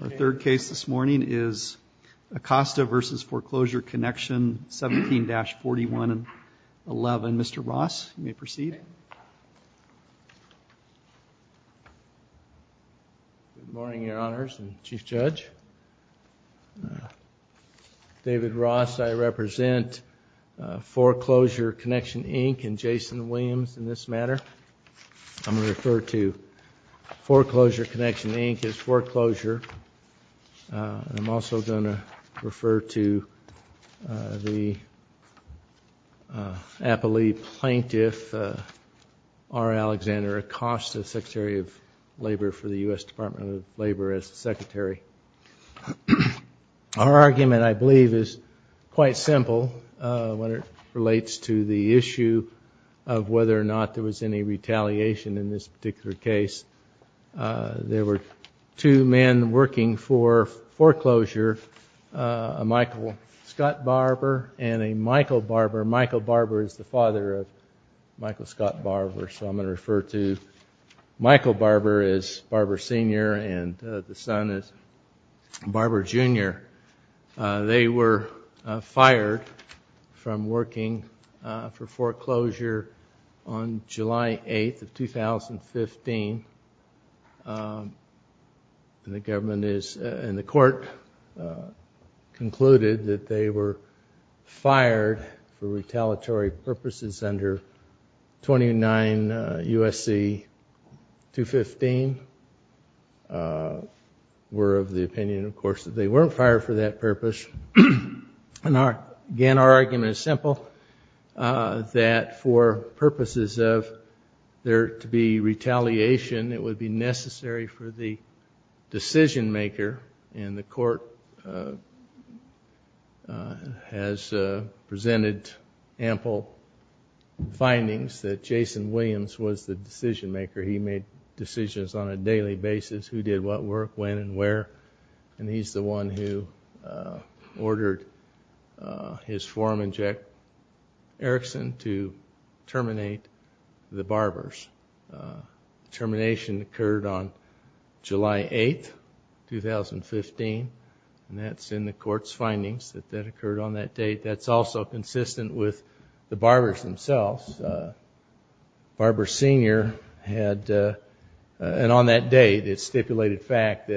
Our third case this morning is Acosta v. Foreclosure Connection, 17-4111. Mr. Ross, you may proceed. Good morning, Your Honors and Chief Judge. David Ross. I represent Foreclosure Connection, Inc. and Jason Williams in this matter. I'm going to refer to Foreclosure Connection, Inc. as foreclosure. I'm also going to refer to the Appalachian Plaintiff, R. Alexander Acosta, Secretary of Labor for the U.S. Department of Labor as the Secretary. Our argument, I believe, is quite simple when it relates to the issue of whether or not there was any retaliation in this particular case. There were two men working for foreclosure, a Michael Scott Barber and a Michael Barber. Michael Barber is the father of Michael Scott Barber, so I'm going to refer to Michael Barber as Barber Sr. and the son as Barber Jr. They were fired from working for foreclosure on July 8th of 2015, and the court concluded that they were fired for retaliatory purposes under 29 U.S.C. 215, were of the opinion, of course, that they weren't fired for that purpose. Again, our argument is simple, that for purposes of there to be retaliation, it would be necessary for the decision-maker, and the court has presented ample findings that Jason Williams was the decision-maker. He made decisions on a daily basis, who did what work, when and where, and he's the one who ordered his foreman, Jack Erickson, to terminate the Barbers. Termination occurred on July 8th, 2015, and that's in the court's findings that that occurred on that date. That's also consistent with the Barbers themselves. Barber Sr. had, and on that day, it stipulated fact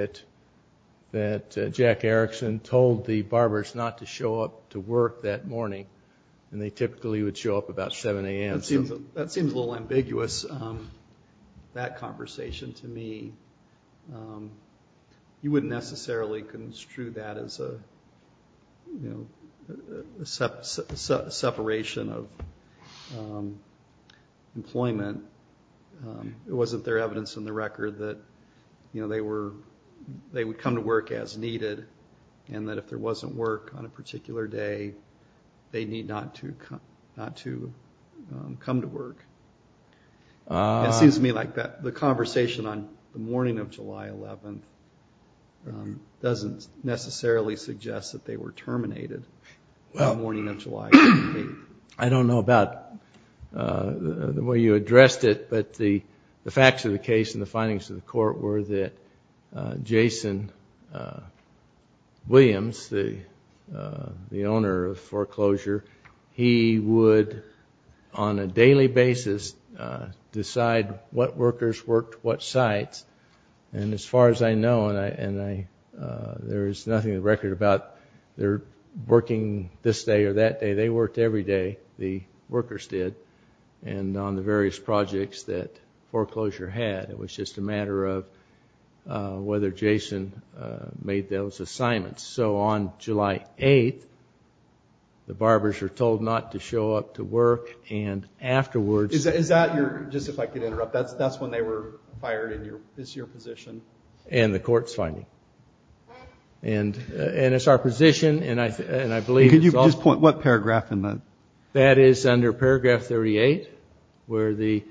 that Jack Erickson told the Barbers not to show up to work that morning, and they typically would show up about 7 a.m. That seems a little ambiguous, that conversation, to me. You wouldn't necessarily construe that as a separation of employment. It wasn't their evidence in the record that they would come to work as needed, and that if there wasn't work on a particular day, they'd need not to come to work. It seems to me like the conversation on the morning of July 11th doesn't necessarily suggest that they were terminated on the morning of July 11th. I don't know about the way you addressed it, but the facts of the case and the findings of the court were that Jason Williams, the owner of Foreclosure, he would on a daily basis decide what workers worked what sites. As far as I know, and there is nothing in the record about their working this day or that day, they worked every day, the workers did, and on the various projects that Foreclosure had. It was just a matter of whether Jason made those assignments. On July 8th, the barbers were told not to show up to work, and afterwards- Is that your, just if I could interrupt, that's when they were fired in this year's position? And the court's finding. And it's our position, and I believe- Could you just point what paragraph in that? That is under paragraph 38, where the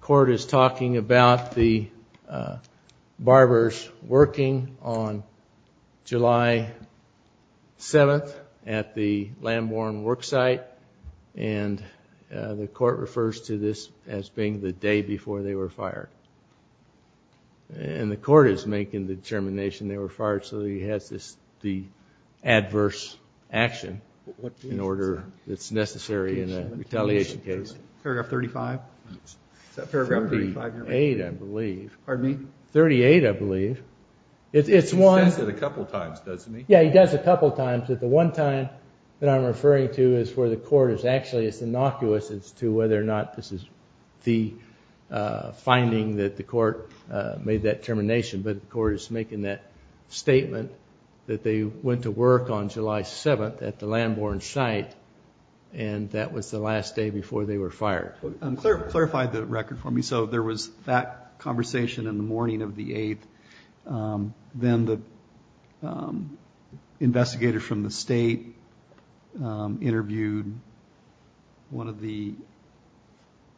court is talking about the barbers working on July 7th at the Lamborn worksite, and the court refers to this as being the day before they were fired. And the court is making the determination they were fired so he has this, the adverse action in order that's necessary in a retaliation case. Paragraph 35? Is that paragraph 35? 38, I believe. Pardon me? 38, I believe. It's one- He says it a couple times, doesn't he? Yeah, he does a couple times, but the one time that I'm referring to is where the court is actually, it's innocuous as to whether or not this is the finding that the court made that determination, but the court is making that statement that they went to work on July 7th at the Lamborn site, and that was the last day before they were fired. Clarify the record for me. So there was that conversation in the morning of the 8th, then the investigator from the state interviewed one of the,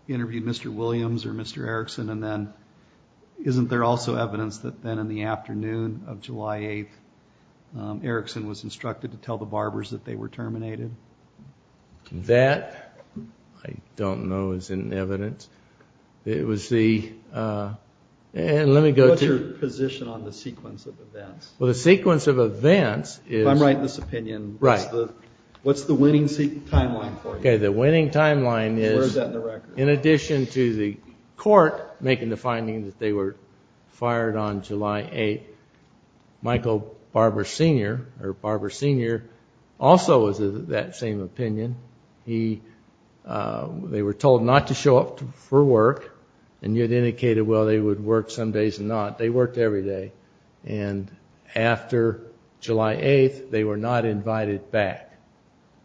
interviewed Mr. Williams or Mr. Erickson, and then isn't there also evidence that then in the afternoon of July 8th, Erickson was instructed to tell the barbers that they were terminated? That I don't know is in evidence. It was the, and let me go to- What's your position on the sequence of events? Well, the sequence of events is- If I'm right in this opinion, what's the winning timeline for you? Okay, the winning timeline is- Where is that in the record? In addition to the court making the finding that they were fired on July 8th, Michael Barber Sr. or Barber Sr. also was of that same opinion. They were told not to show up for work, and you had indicated, well, they would work some days and not. They worked every day, and after July 8th, they were not invited back.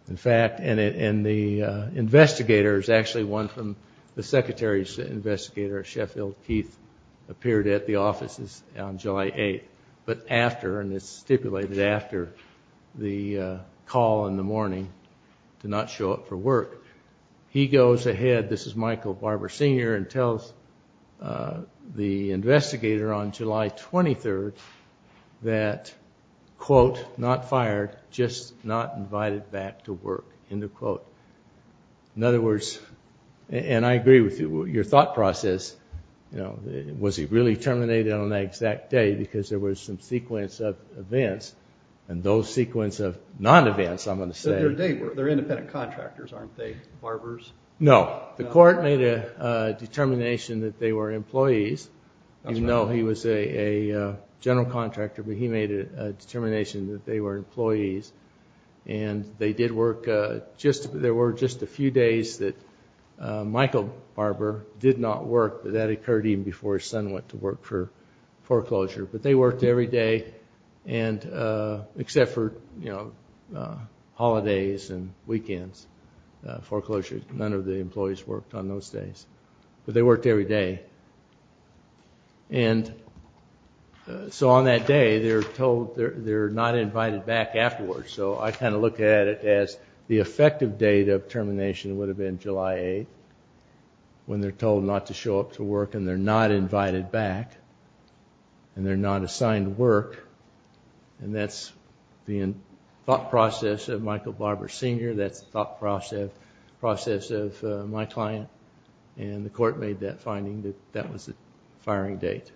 In fact, and the investigator is actually one from the secretary's investigator at Sheffield. Keith appeared at the offices on July 8th, but after, and it's stipulated after the call in the morning to not show up for work. He goes ahead, this is Michael Barber Sr., and tells the investigator on July 23rd that, quote, not fired, just not invited back to work, end of quote. In other words, and I agree with you, your thought process, was he really terminated on that exact day because there was some sequence of events, and those sequence of non-events, I'm going to say- They're independent contractors, aren't they? Barbers? No. The court made a determination that they were employees, even though he was a general contractor, but he made a determination that they were employees, and they did work, there were just a few days that Michael Barber did not work, but that occurred even before his son went to work for foreclosure, but they worked every day, except for holidays and weekends, foreclosures. None of the employees worked on those days, but they worked every day. And so on that day, they're told they're not invited back afterwards, so I kind of look at it as the effective date of termination would have been July 8th, when they're told not to show up to work, and they're not invited back, and they're not assigned work, and that's the thought process of Michael Barber Sr., that's the thought process of my client, and the court made that finding that that was the firing date.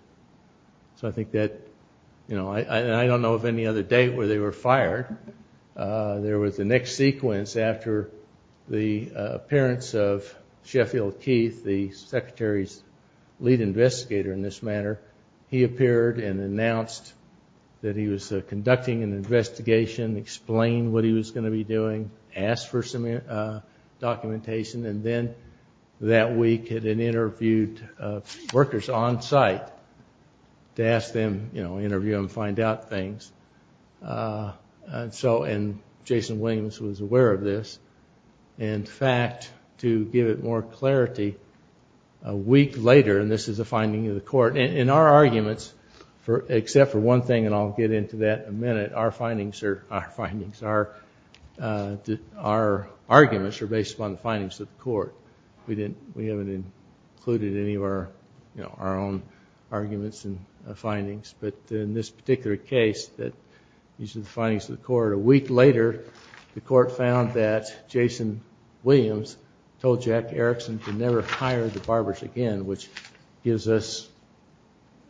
So I think that, you know, I don't know of any other date where they were fired. There was the next sequence after the appearance of Sheffield Keith, the secretary's lead investigator in this matter. He appeared and announced that he was conducting an investigation, explained what he was going to be doing, asked for some documentation, and then that week had interviewed workers on site to ask them, you know, interview them, find out things, and so, and Jason Williams was aware of this. In fact, to give it more clarity, a week later, and this is a finding of the court, and in our arguments, except for one thing, and I'll get into that in a minute, our findings are our arguments are based upon the findings of the court. We didn't, we haven't included any of our, you know, our own arguments and findings, but in this particular case, that these are the findings of the court. A week later, the court found that Jason Williams told Jack Erickson to never hire the Barbers again, which gives us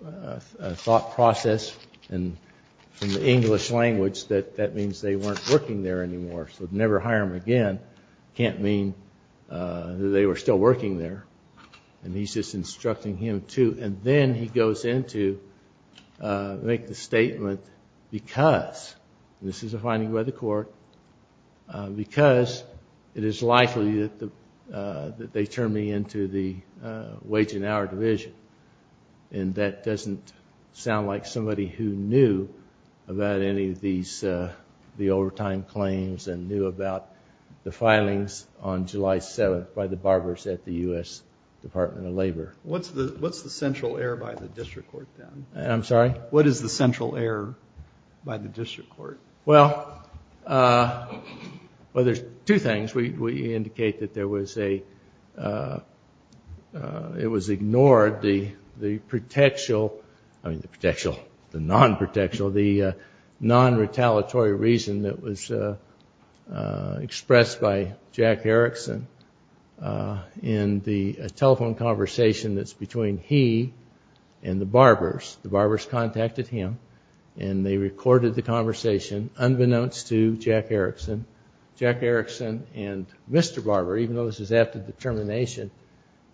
a thought process, and from the English language, that that means they weren't working there anymore, so to never hire them again can't mean that they were still working there, and he's just instructing him to, and then he goes in to make the statement because, and this is a finding by the court, because it is likely that they turned me into the wage and hour division, and that doesn't sound like somebody who knew about any of the overtime claims and knew about the filings on July 7th by the Barbers at the U.S. Department of Labor. What's the, what's the central error by the district court, then? I'm sorry? What is the central error by the district court? Well, well, there's two things. We indicate that there was a, it was ignored, the, the protection, the non-protection, the non-retaliatory reason that was expressed by Jack Erickson in the telephone conversation that's between he and the Barbers. The Barbers contacted him, and they recorded the conversation, unbeknownst to Jack Erickson. Jack Erickson and Mr. Barber, even though this is after the termination,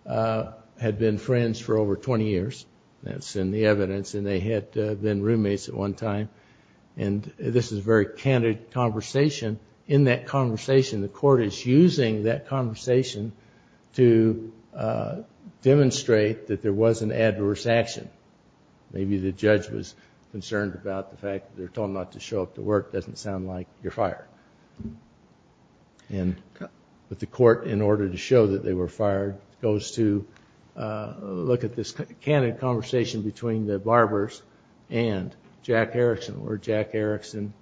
had been friends for over 20 years. That's in the evidence, and they had been roommates at one time. And this is a very candid conversation. In that conversation, the court is using that conversation to demonstrate that there was an adverse action. Maybe the judge was concerned about the fact that they're told not to show up to work. Doesn't sound like you're fired. And, but the court, in order to show that they were fired, goes to look at this candid conversation between the Barbers and Jack Erickson, where Jack Erickson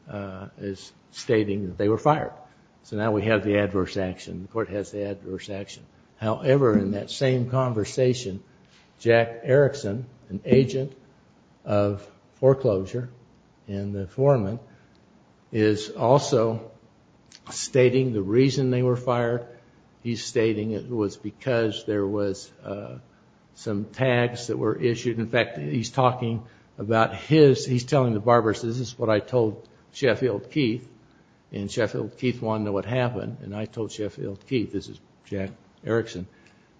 is stating that they were fired. So now we have the adverse action. The court has the adverse action. However, in that same conversation, Jack Erickson, an agent of foreclosure and the foreman, is also stating the reason they were fired. He's stating it was because there was some tags that were issued. In fact, he's talking about his, he's telling the Barbers, this is what I told Sheffield Keith, and Sheffield Keith wanted to know what happened. And I told Sheffield Keith, this is Jack Erickson,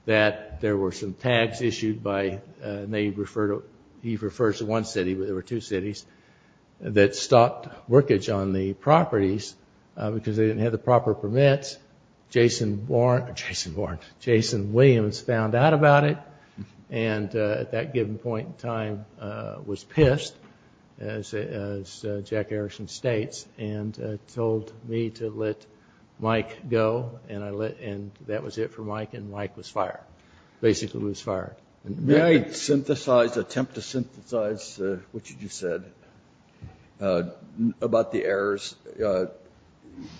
that there were some tags issued by, and they refer to, he refers to one city, but there were two cities, that stopped workage on the properties because they didn't have the proper permits. Jason Warren, Jason Williams found out about it, and at that given point in time was pissed, as Jack Erickson states, and told me to let Mike go, and I let, and that was it for Mike, and Mike was fired. Basically was fired. May I synthesize, attempt to synthesize what you just said about the errors?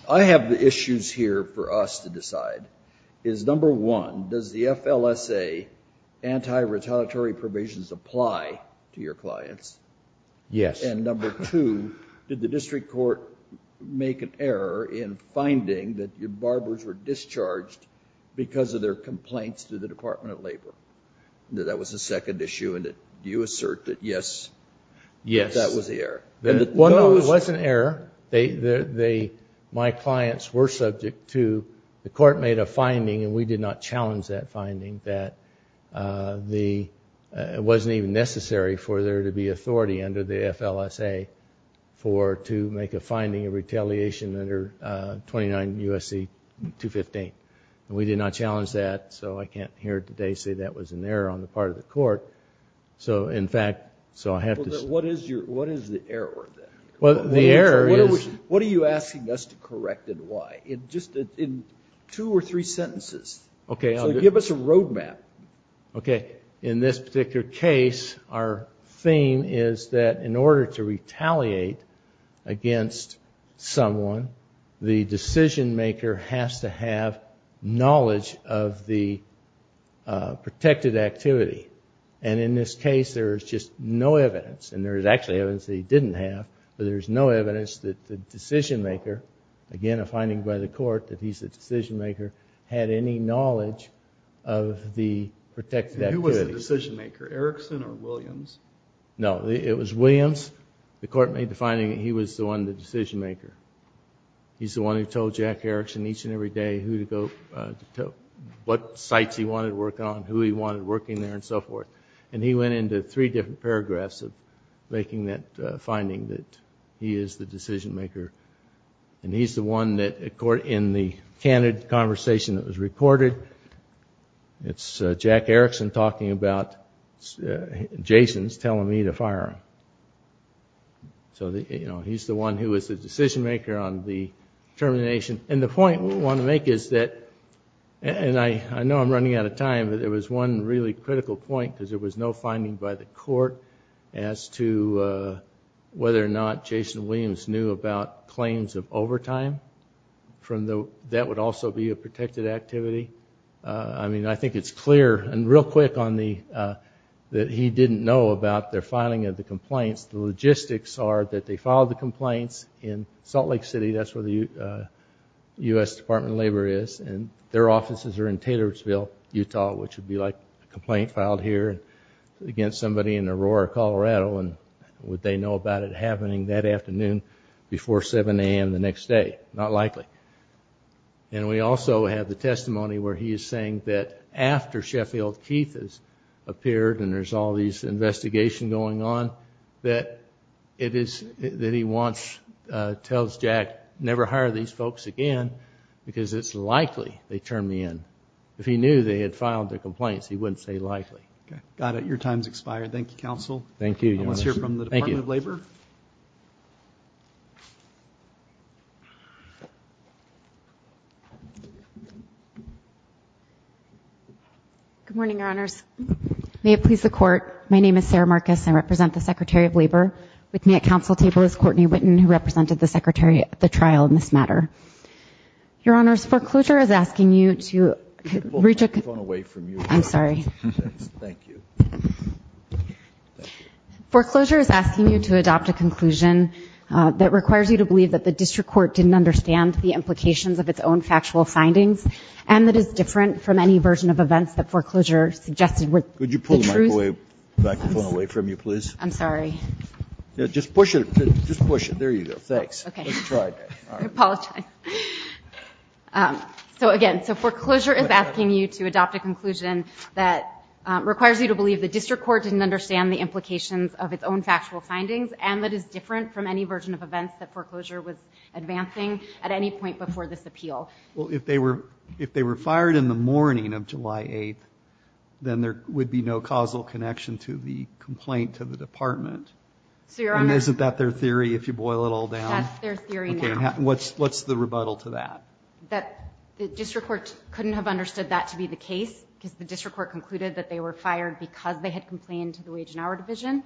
I have the two sides. Is number one, does the FLSA anti-retaliatory provisions apply to your clients? Yes. And number two, did the district court make an error in finding that your Barbers were discharged because of their complaints to the Department of Labor? That was the second issue, and do you assert that yes, that was the error? No, it wasn't an error. My clients were subject to, the court made a finding, and we did not challenge that finding, that it wasn't even necessary for there to be authority under the FLSA for, to make a finding of retaliation under 29 U.S.C. 215. We did not challenge that, so I can't here today say that was an error on the part of the court, so in fact, so I have to... What is your, what is the error there? Well, the error is... What are you asking us to correct, and why? In just, in two or three sentences, so give us a road map. Okay, in this particular case, our theme is that in order to retaliate against someone, the decision maker has to have knowledge of the protected activity, and in this case, there is just no evidence, and there is actually evidence that he didn't have, but there's no evidence that the decision maker, again, a finding by the court that he's the decision maker, had any knowledge of the protected activity. And who was the decision maker, Erickson or Williams? No, it was Williams. The court made the finding that he was the one, the decision maker. He's the one who told Jack Erickson each and every day who to go, what sites he wanted to work on, who he wanted working there, and so forth, and he went into three different paragraphs of making that finding that he is the decision maker, and he's the one that, in the candid conversation that was recorded, it's Jack Erickson talking about Jason's telling me to fire him. So, you know, he's the one who was the decision maker on the termination, and the point I want to make is that, and I know I'm running out of time, but there was one really critical point, because there was no finding by the court as to whether or not Jason Williams knew about claims of overtime from the, that would also be a protected activity. I mean, I think it's clear, and real quick on the, that he didn't know about their filing of the complaints. The logistics are that they filed the complaints in Salt Lake City, which is where the U.S. Department of Labor is, and their offices are in Taylorsville, Utah, which would be like a complaint filed here against somebody in Aurora, Colorado, and would they know about it happening that afternoon before 7 a.m. the next day? Not likely. And we also have the testimony where he is saying that after Sheffield Keith has appeared and there's all these investigations going on, that it is, that he wants, tells Jack, never hire these folks again, because it's likely they'd turn me in. If he knew they had filed their complaints, he wouldn't say likely. Okay. Got it. Your time's expired. Thank you, Counsel. Thank you, Your Honors. Let's hear from the Department of Labor. Thank you. Good morning, Your Honors. May it please the Court, my name is Sarah Marcus. I represent the Secretary of Labor. With me at Council table is Courtney Witten, who represented the Secretary at the trial in this matter. Your Honors, foreclosure is asking you to reach a Could you pull the microphone away from you? I'm sorry. Thanks. Thank you. Thank you. Foreclosure is asking you to adopt a conclusion that requires you to believe that the district court didn't understand the implications of its own factual findings, and that it's different from any version of events that foreclosure suggested were the truth Could you pull the microphone away from you, please? I'm sorry. Just push it. Just push it. There you go. Thanks. Okay. Let's try again. I apologize. So again, so foreclosure is asking you to adopt a conclusion that requires you to believe the district court didn't understand the implications of its own factual findings, and that it's different from any version of events that foreclosure was advancing at any point before this appeal. Well, if they were fired in the morning of July 8th, then there would be no causal connection to the complaint to the department. So, Your Honor And isn't that their theory, if you boil it all down? That's their theory now. Okay. What's the rebuttal to that? That the district court couldn't have understood that to be the case, because the district court concluded that they were fired because they had complained to the Wage and Hour Division,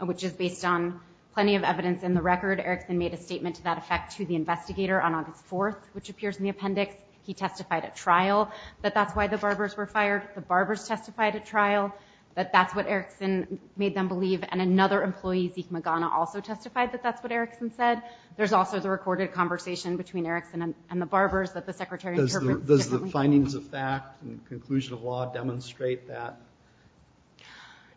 which is based on plenty of evidence in the record. Erickson made a statement to that effect to the investigator on August 4th, which appears in the appendix. He testified at trial that that's why the Barbers were fired. The Barbers testified at trial that that's what Erickson made them believe. And another employee, Zeke Magana, also testified that that's what Erickson said. There's also the recorded conversation between Erickson and the Barbers that the Secretary of Justice Does the findings of fact and conclusion of law demonstrate that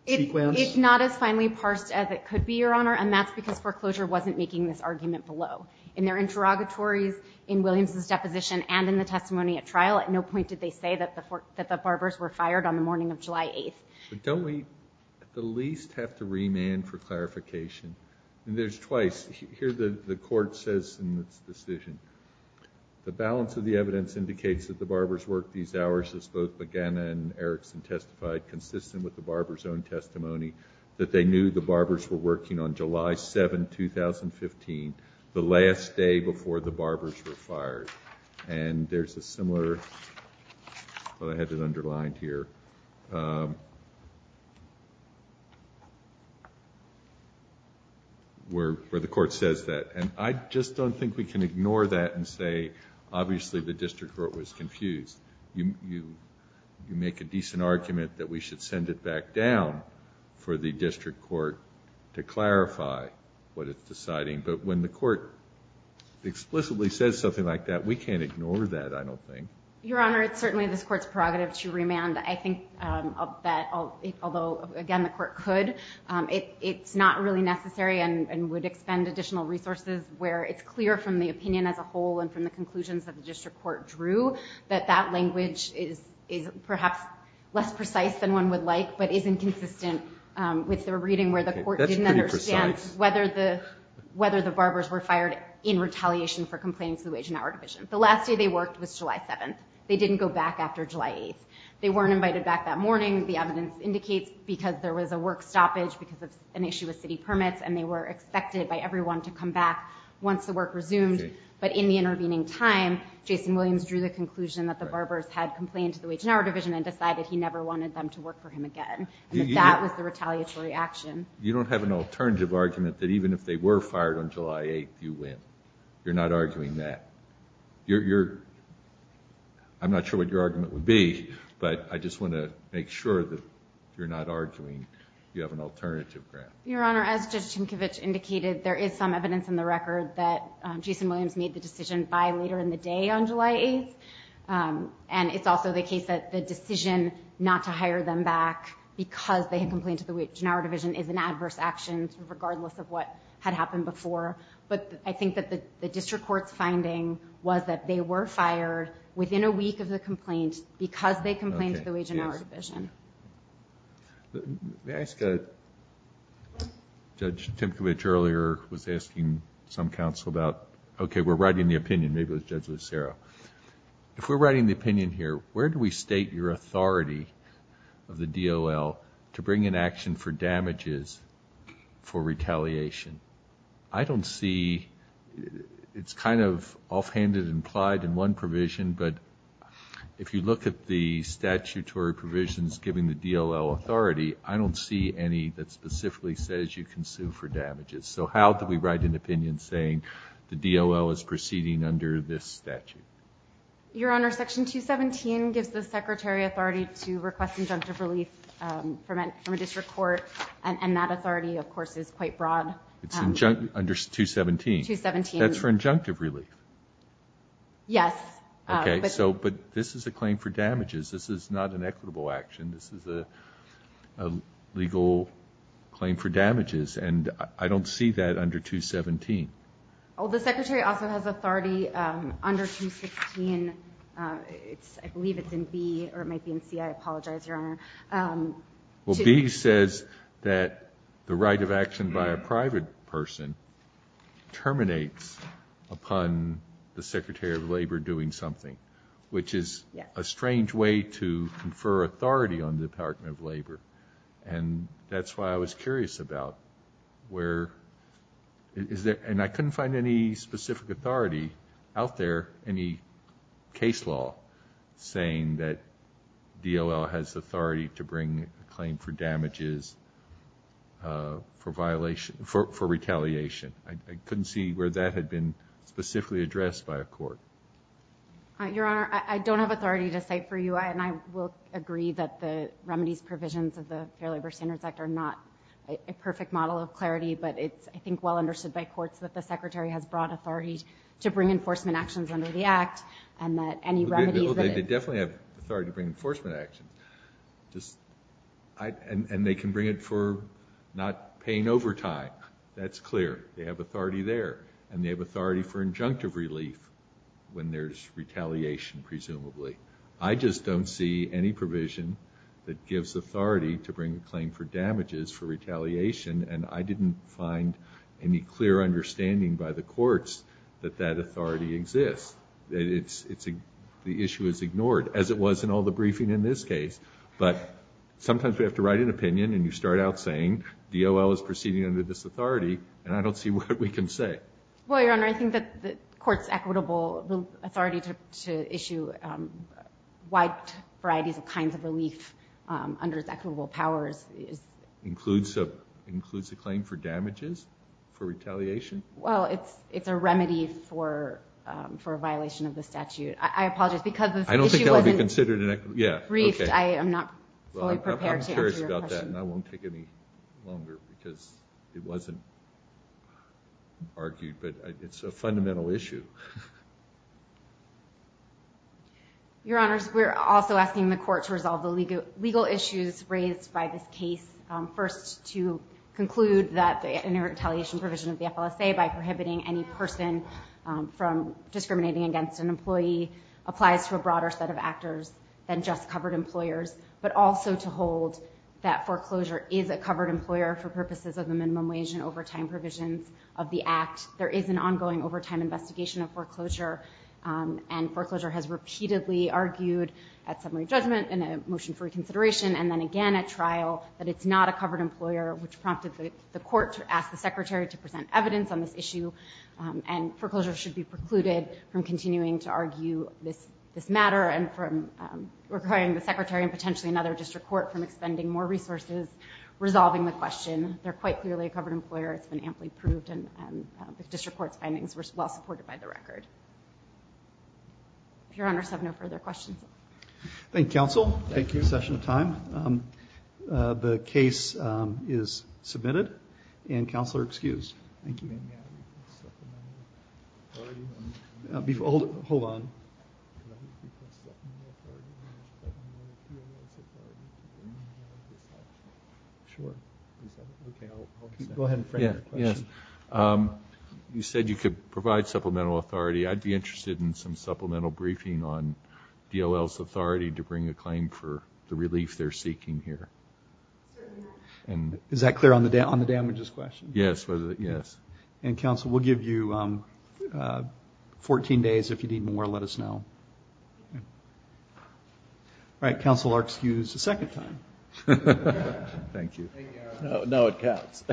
sequence? It's not as finely parsed as it could be, Your Honor, and that's because foreclosure wasn't making this argument below. In their interrogatories, in Williams' deposition, and in the testimony at trial, at no point did they say that the Barbers were fired on the morning of July 8th. Don't we at the least have to remand for clarification? There's twice. Here the court says in its decision, The balance of the evidence indicates that the Barbers worked these hours, as both Magana and Erickson testified, consistent with the Barbers' own testimony, that they knew the Barbers were working on July 7, 2015, the last day before the Barbers were fired. And there's a similar, well I had it underlined here, where the court says that. And I just don't think we can ignore that and say, obviously the district court was confused. You make a decent argument that we should send it back down for the district court to clarify what it's deciding. But when the court explicitly says something like that, we can't ignore that, I don't think. Your Honor, it's certainly this court's prerogative to remand. I think that although, again, the court could, it's not really necessary and would expend additional resources where it's clear from the opinion as a whole and from the conclusions that the district court drew that that language is perhaps less precise than one would like, but isn't consistent with the reading where the court didn't understand whether the Barbers were fired in retaliation for complaining to the Wage and Hour Division. The last day they worked was July 7. They didn't go back after July 8. They weren't invited back that morning, the evidence indicates, because there was a work stoppage because of an issue with city permits, and they were expected by everyone to come back once the work resumed. But in the intervening time, Jason Williams drew the conclusion that the Barbers had complained to the Wage and Hour Division and decided he never wanted them to work for him again, and that that was the retaliatory action. You don't have an alternative argument that even if they were fired on July 8, you win. You're not arguing that. You're, you're, I'm not sure what your argument would be, but I just want to make sure that you're not arguing you have an alternative ground. Your Honor, as Judge Tinkovich indicated, there is some evidence in the record that Jason Williams made the decision by later in the day on July 8, and it's also the case that the decision not to hire them back because they had complained to the Wage and Hour Division in adverse actions regardless of what had happened before. But I think that the District Court's finding was that they were fired within a week of the complaint because they complained to the Wage and Hour Division. May I ask, Judge Tinkovich earlier was asking some counsel about, okay, we're writing the opinion, maybe it was Judge Lucero. If we're writing the opinion here, where do we state your authority of the DOL to bring in action for damages for retaliation? I don't see, it's kind of offhanded and implied in one provision, but if you look at the statutory provisions given the DOL authority, I don't see any that specifically says you can sue for damages. So how do we write an opinion saying the DOL is proceeding under this statute? Your Honor, Section 217 gives the Secretary authority to request injunctive relief from a District Court, and that authority, of course, is quite broad. It's under 217? 217. That's for injunctive relief? Yes. Okay, but this is a claim for damages. This is not an equitable action. This is a legal claim for damages, and I don't see that under 217. Well, the Secretary also has authority under 216. I believe it's in B, or it might be in C. I apologize, Your Honor. Well, B says that the right of action by a private person terminates upon the Secretary of Labor doing something, which is a strange way to confer authority on the Department of Labor. And that's why I was curious about where, and I couldn't find any specific authority out there, any case law saying that DOL has authority to bring a claim for damages for retaliation. I couldn't see where that had been specifically addressed by a court. Your Honor, I don't have authority to cite for you, and I will agree that the remedies provisions of the Fair Labor Standards Act are not a perfect model of clarity, but it's, I think, well understood by courts that the Secretary has brought authority to bring enforcement actions under the Act, and that any remedies that it... Well, they definitely have authority to bring enforcement actions. And they can bring it for not paying overtime. That's clear. They have authority there, and they have authority for injunctive relief when there's retaliation, presumably. I just don't see any provision that gives authority to bring a claim for damages for retaliation, and I didn't find any clear understanding by the courts that that authority exists, that the issue is ignored, as it was in all the briefing in this case. But sometimes we have to write an opinion, and you start out saying, DOL is proceeding under this authority, and I don't see what we can say. Well, Your Honor, I think that the court's equitable authority to issue wide varieties of kinds of relief under its equitable powers is... Includes a claim for damages for retaliation? Well, it's a remedy for a violation of the statute. I apologize, because this issue wasn't... I don't think it will be considered an equitable... Briefed, I am not fully prepared to answer your question. I'm curious about that, and I won't take any longer because it wasn't argued, but it's a fundamental issue. Your Honors, we're also asking the court to resolve the legal issues raised by this case. First, to conclude that the inter-retaliation provision of the FLSA by prohibiting any person from discriminating against an employee applies to a broader set of actors than just covered employers, but also to hold that foreclosure is a covered employer for purposes of the minimum wage and overtime provisions of the Act. There is an ongoing overtime investigation of foreclosure, and foreclosure has repeatedly argued at summary judgment and a motion for reconsideration and then again at trial that it's not a covered employer, which prompted the court to ask the Secretary to present evidence on this issue, and foreclosure should be precluded from continuing to argue this matter and from requiring the Secretary and potentially another district court from expending more resources resolving the question. They're quite clearly a covered employer. It's been amply proved, and the district court's findings were well supported by the record. Your Honors have no further questions. Thank you, Counsel. Thank you. Session time. Thank you. Supplemental authority. Hold on. Go ahead and frame your question. You said you could provide supplemental authority. I'd be interested in some supplemental briefing on DOL's authority to bring a claim for the relief they're seeking here. Is that clear on the damages question? Yes. Yes. And, Counsel, we'll give you 14 days. If you need more, let us know. All right. Counsel, you're excused a second time. Thank you. No, it counts.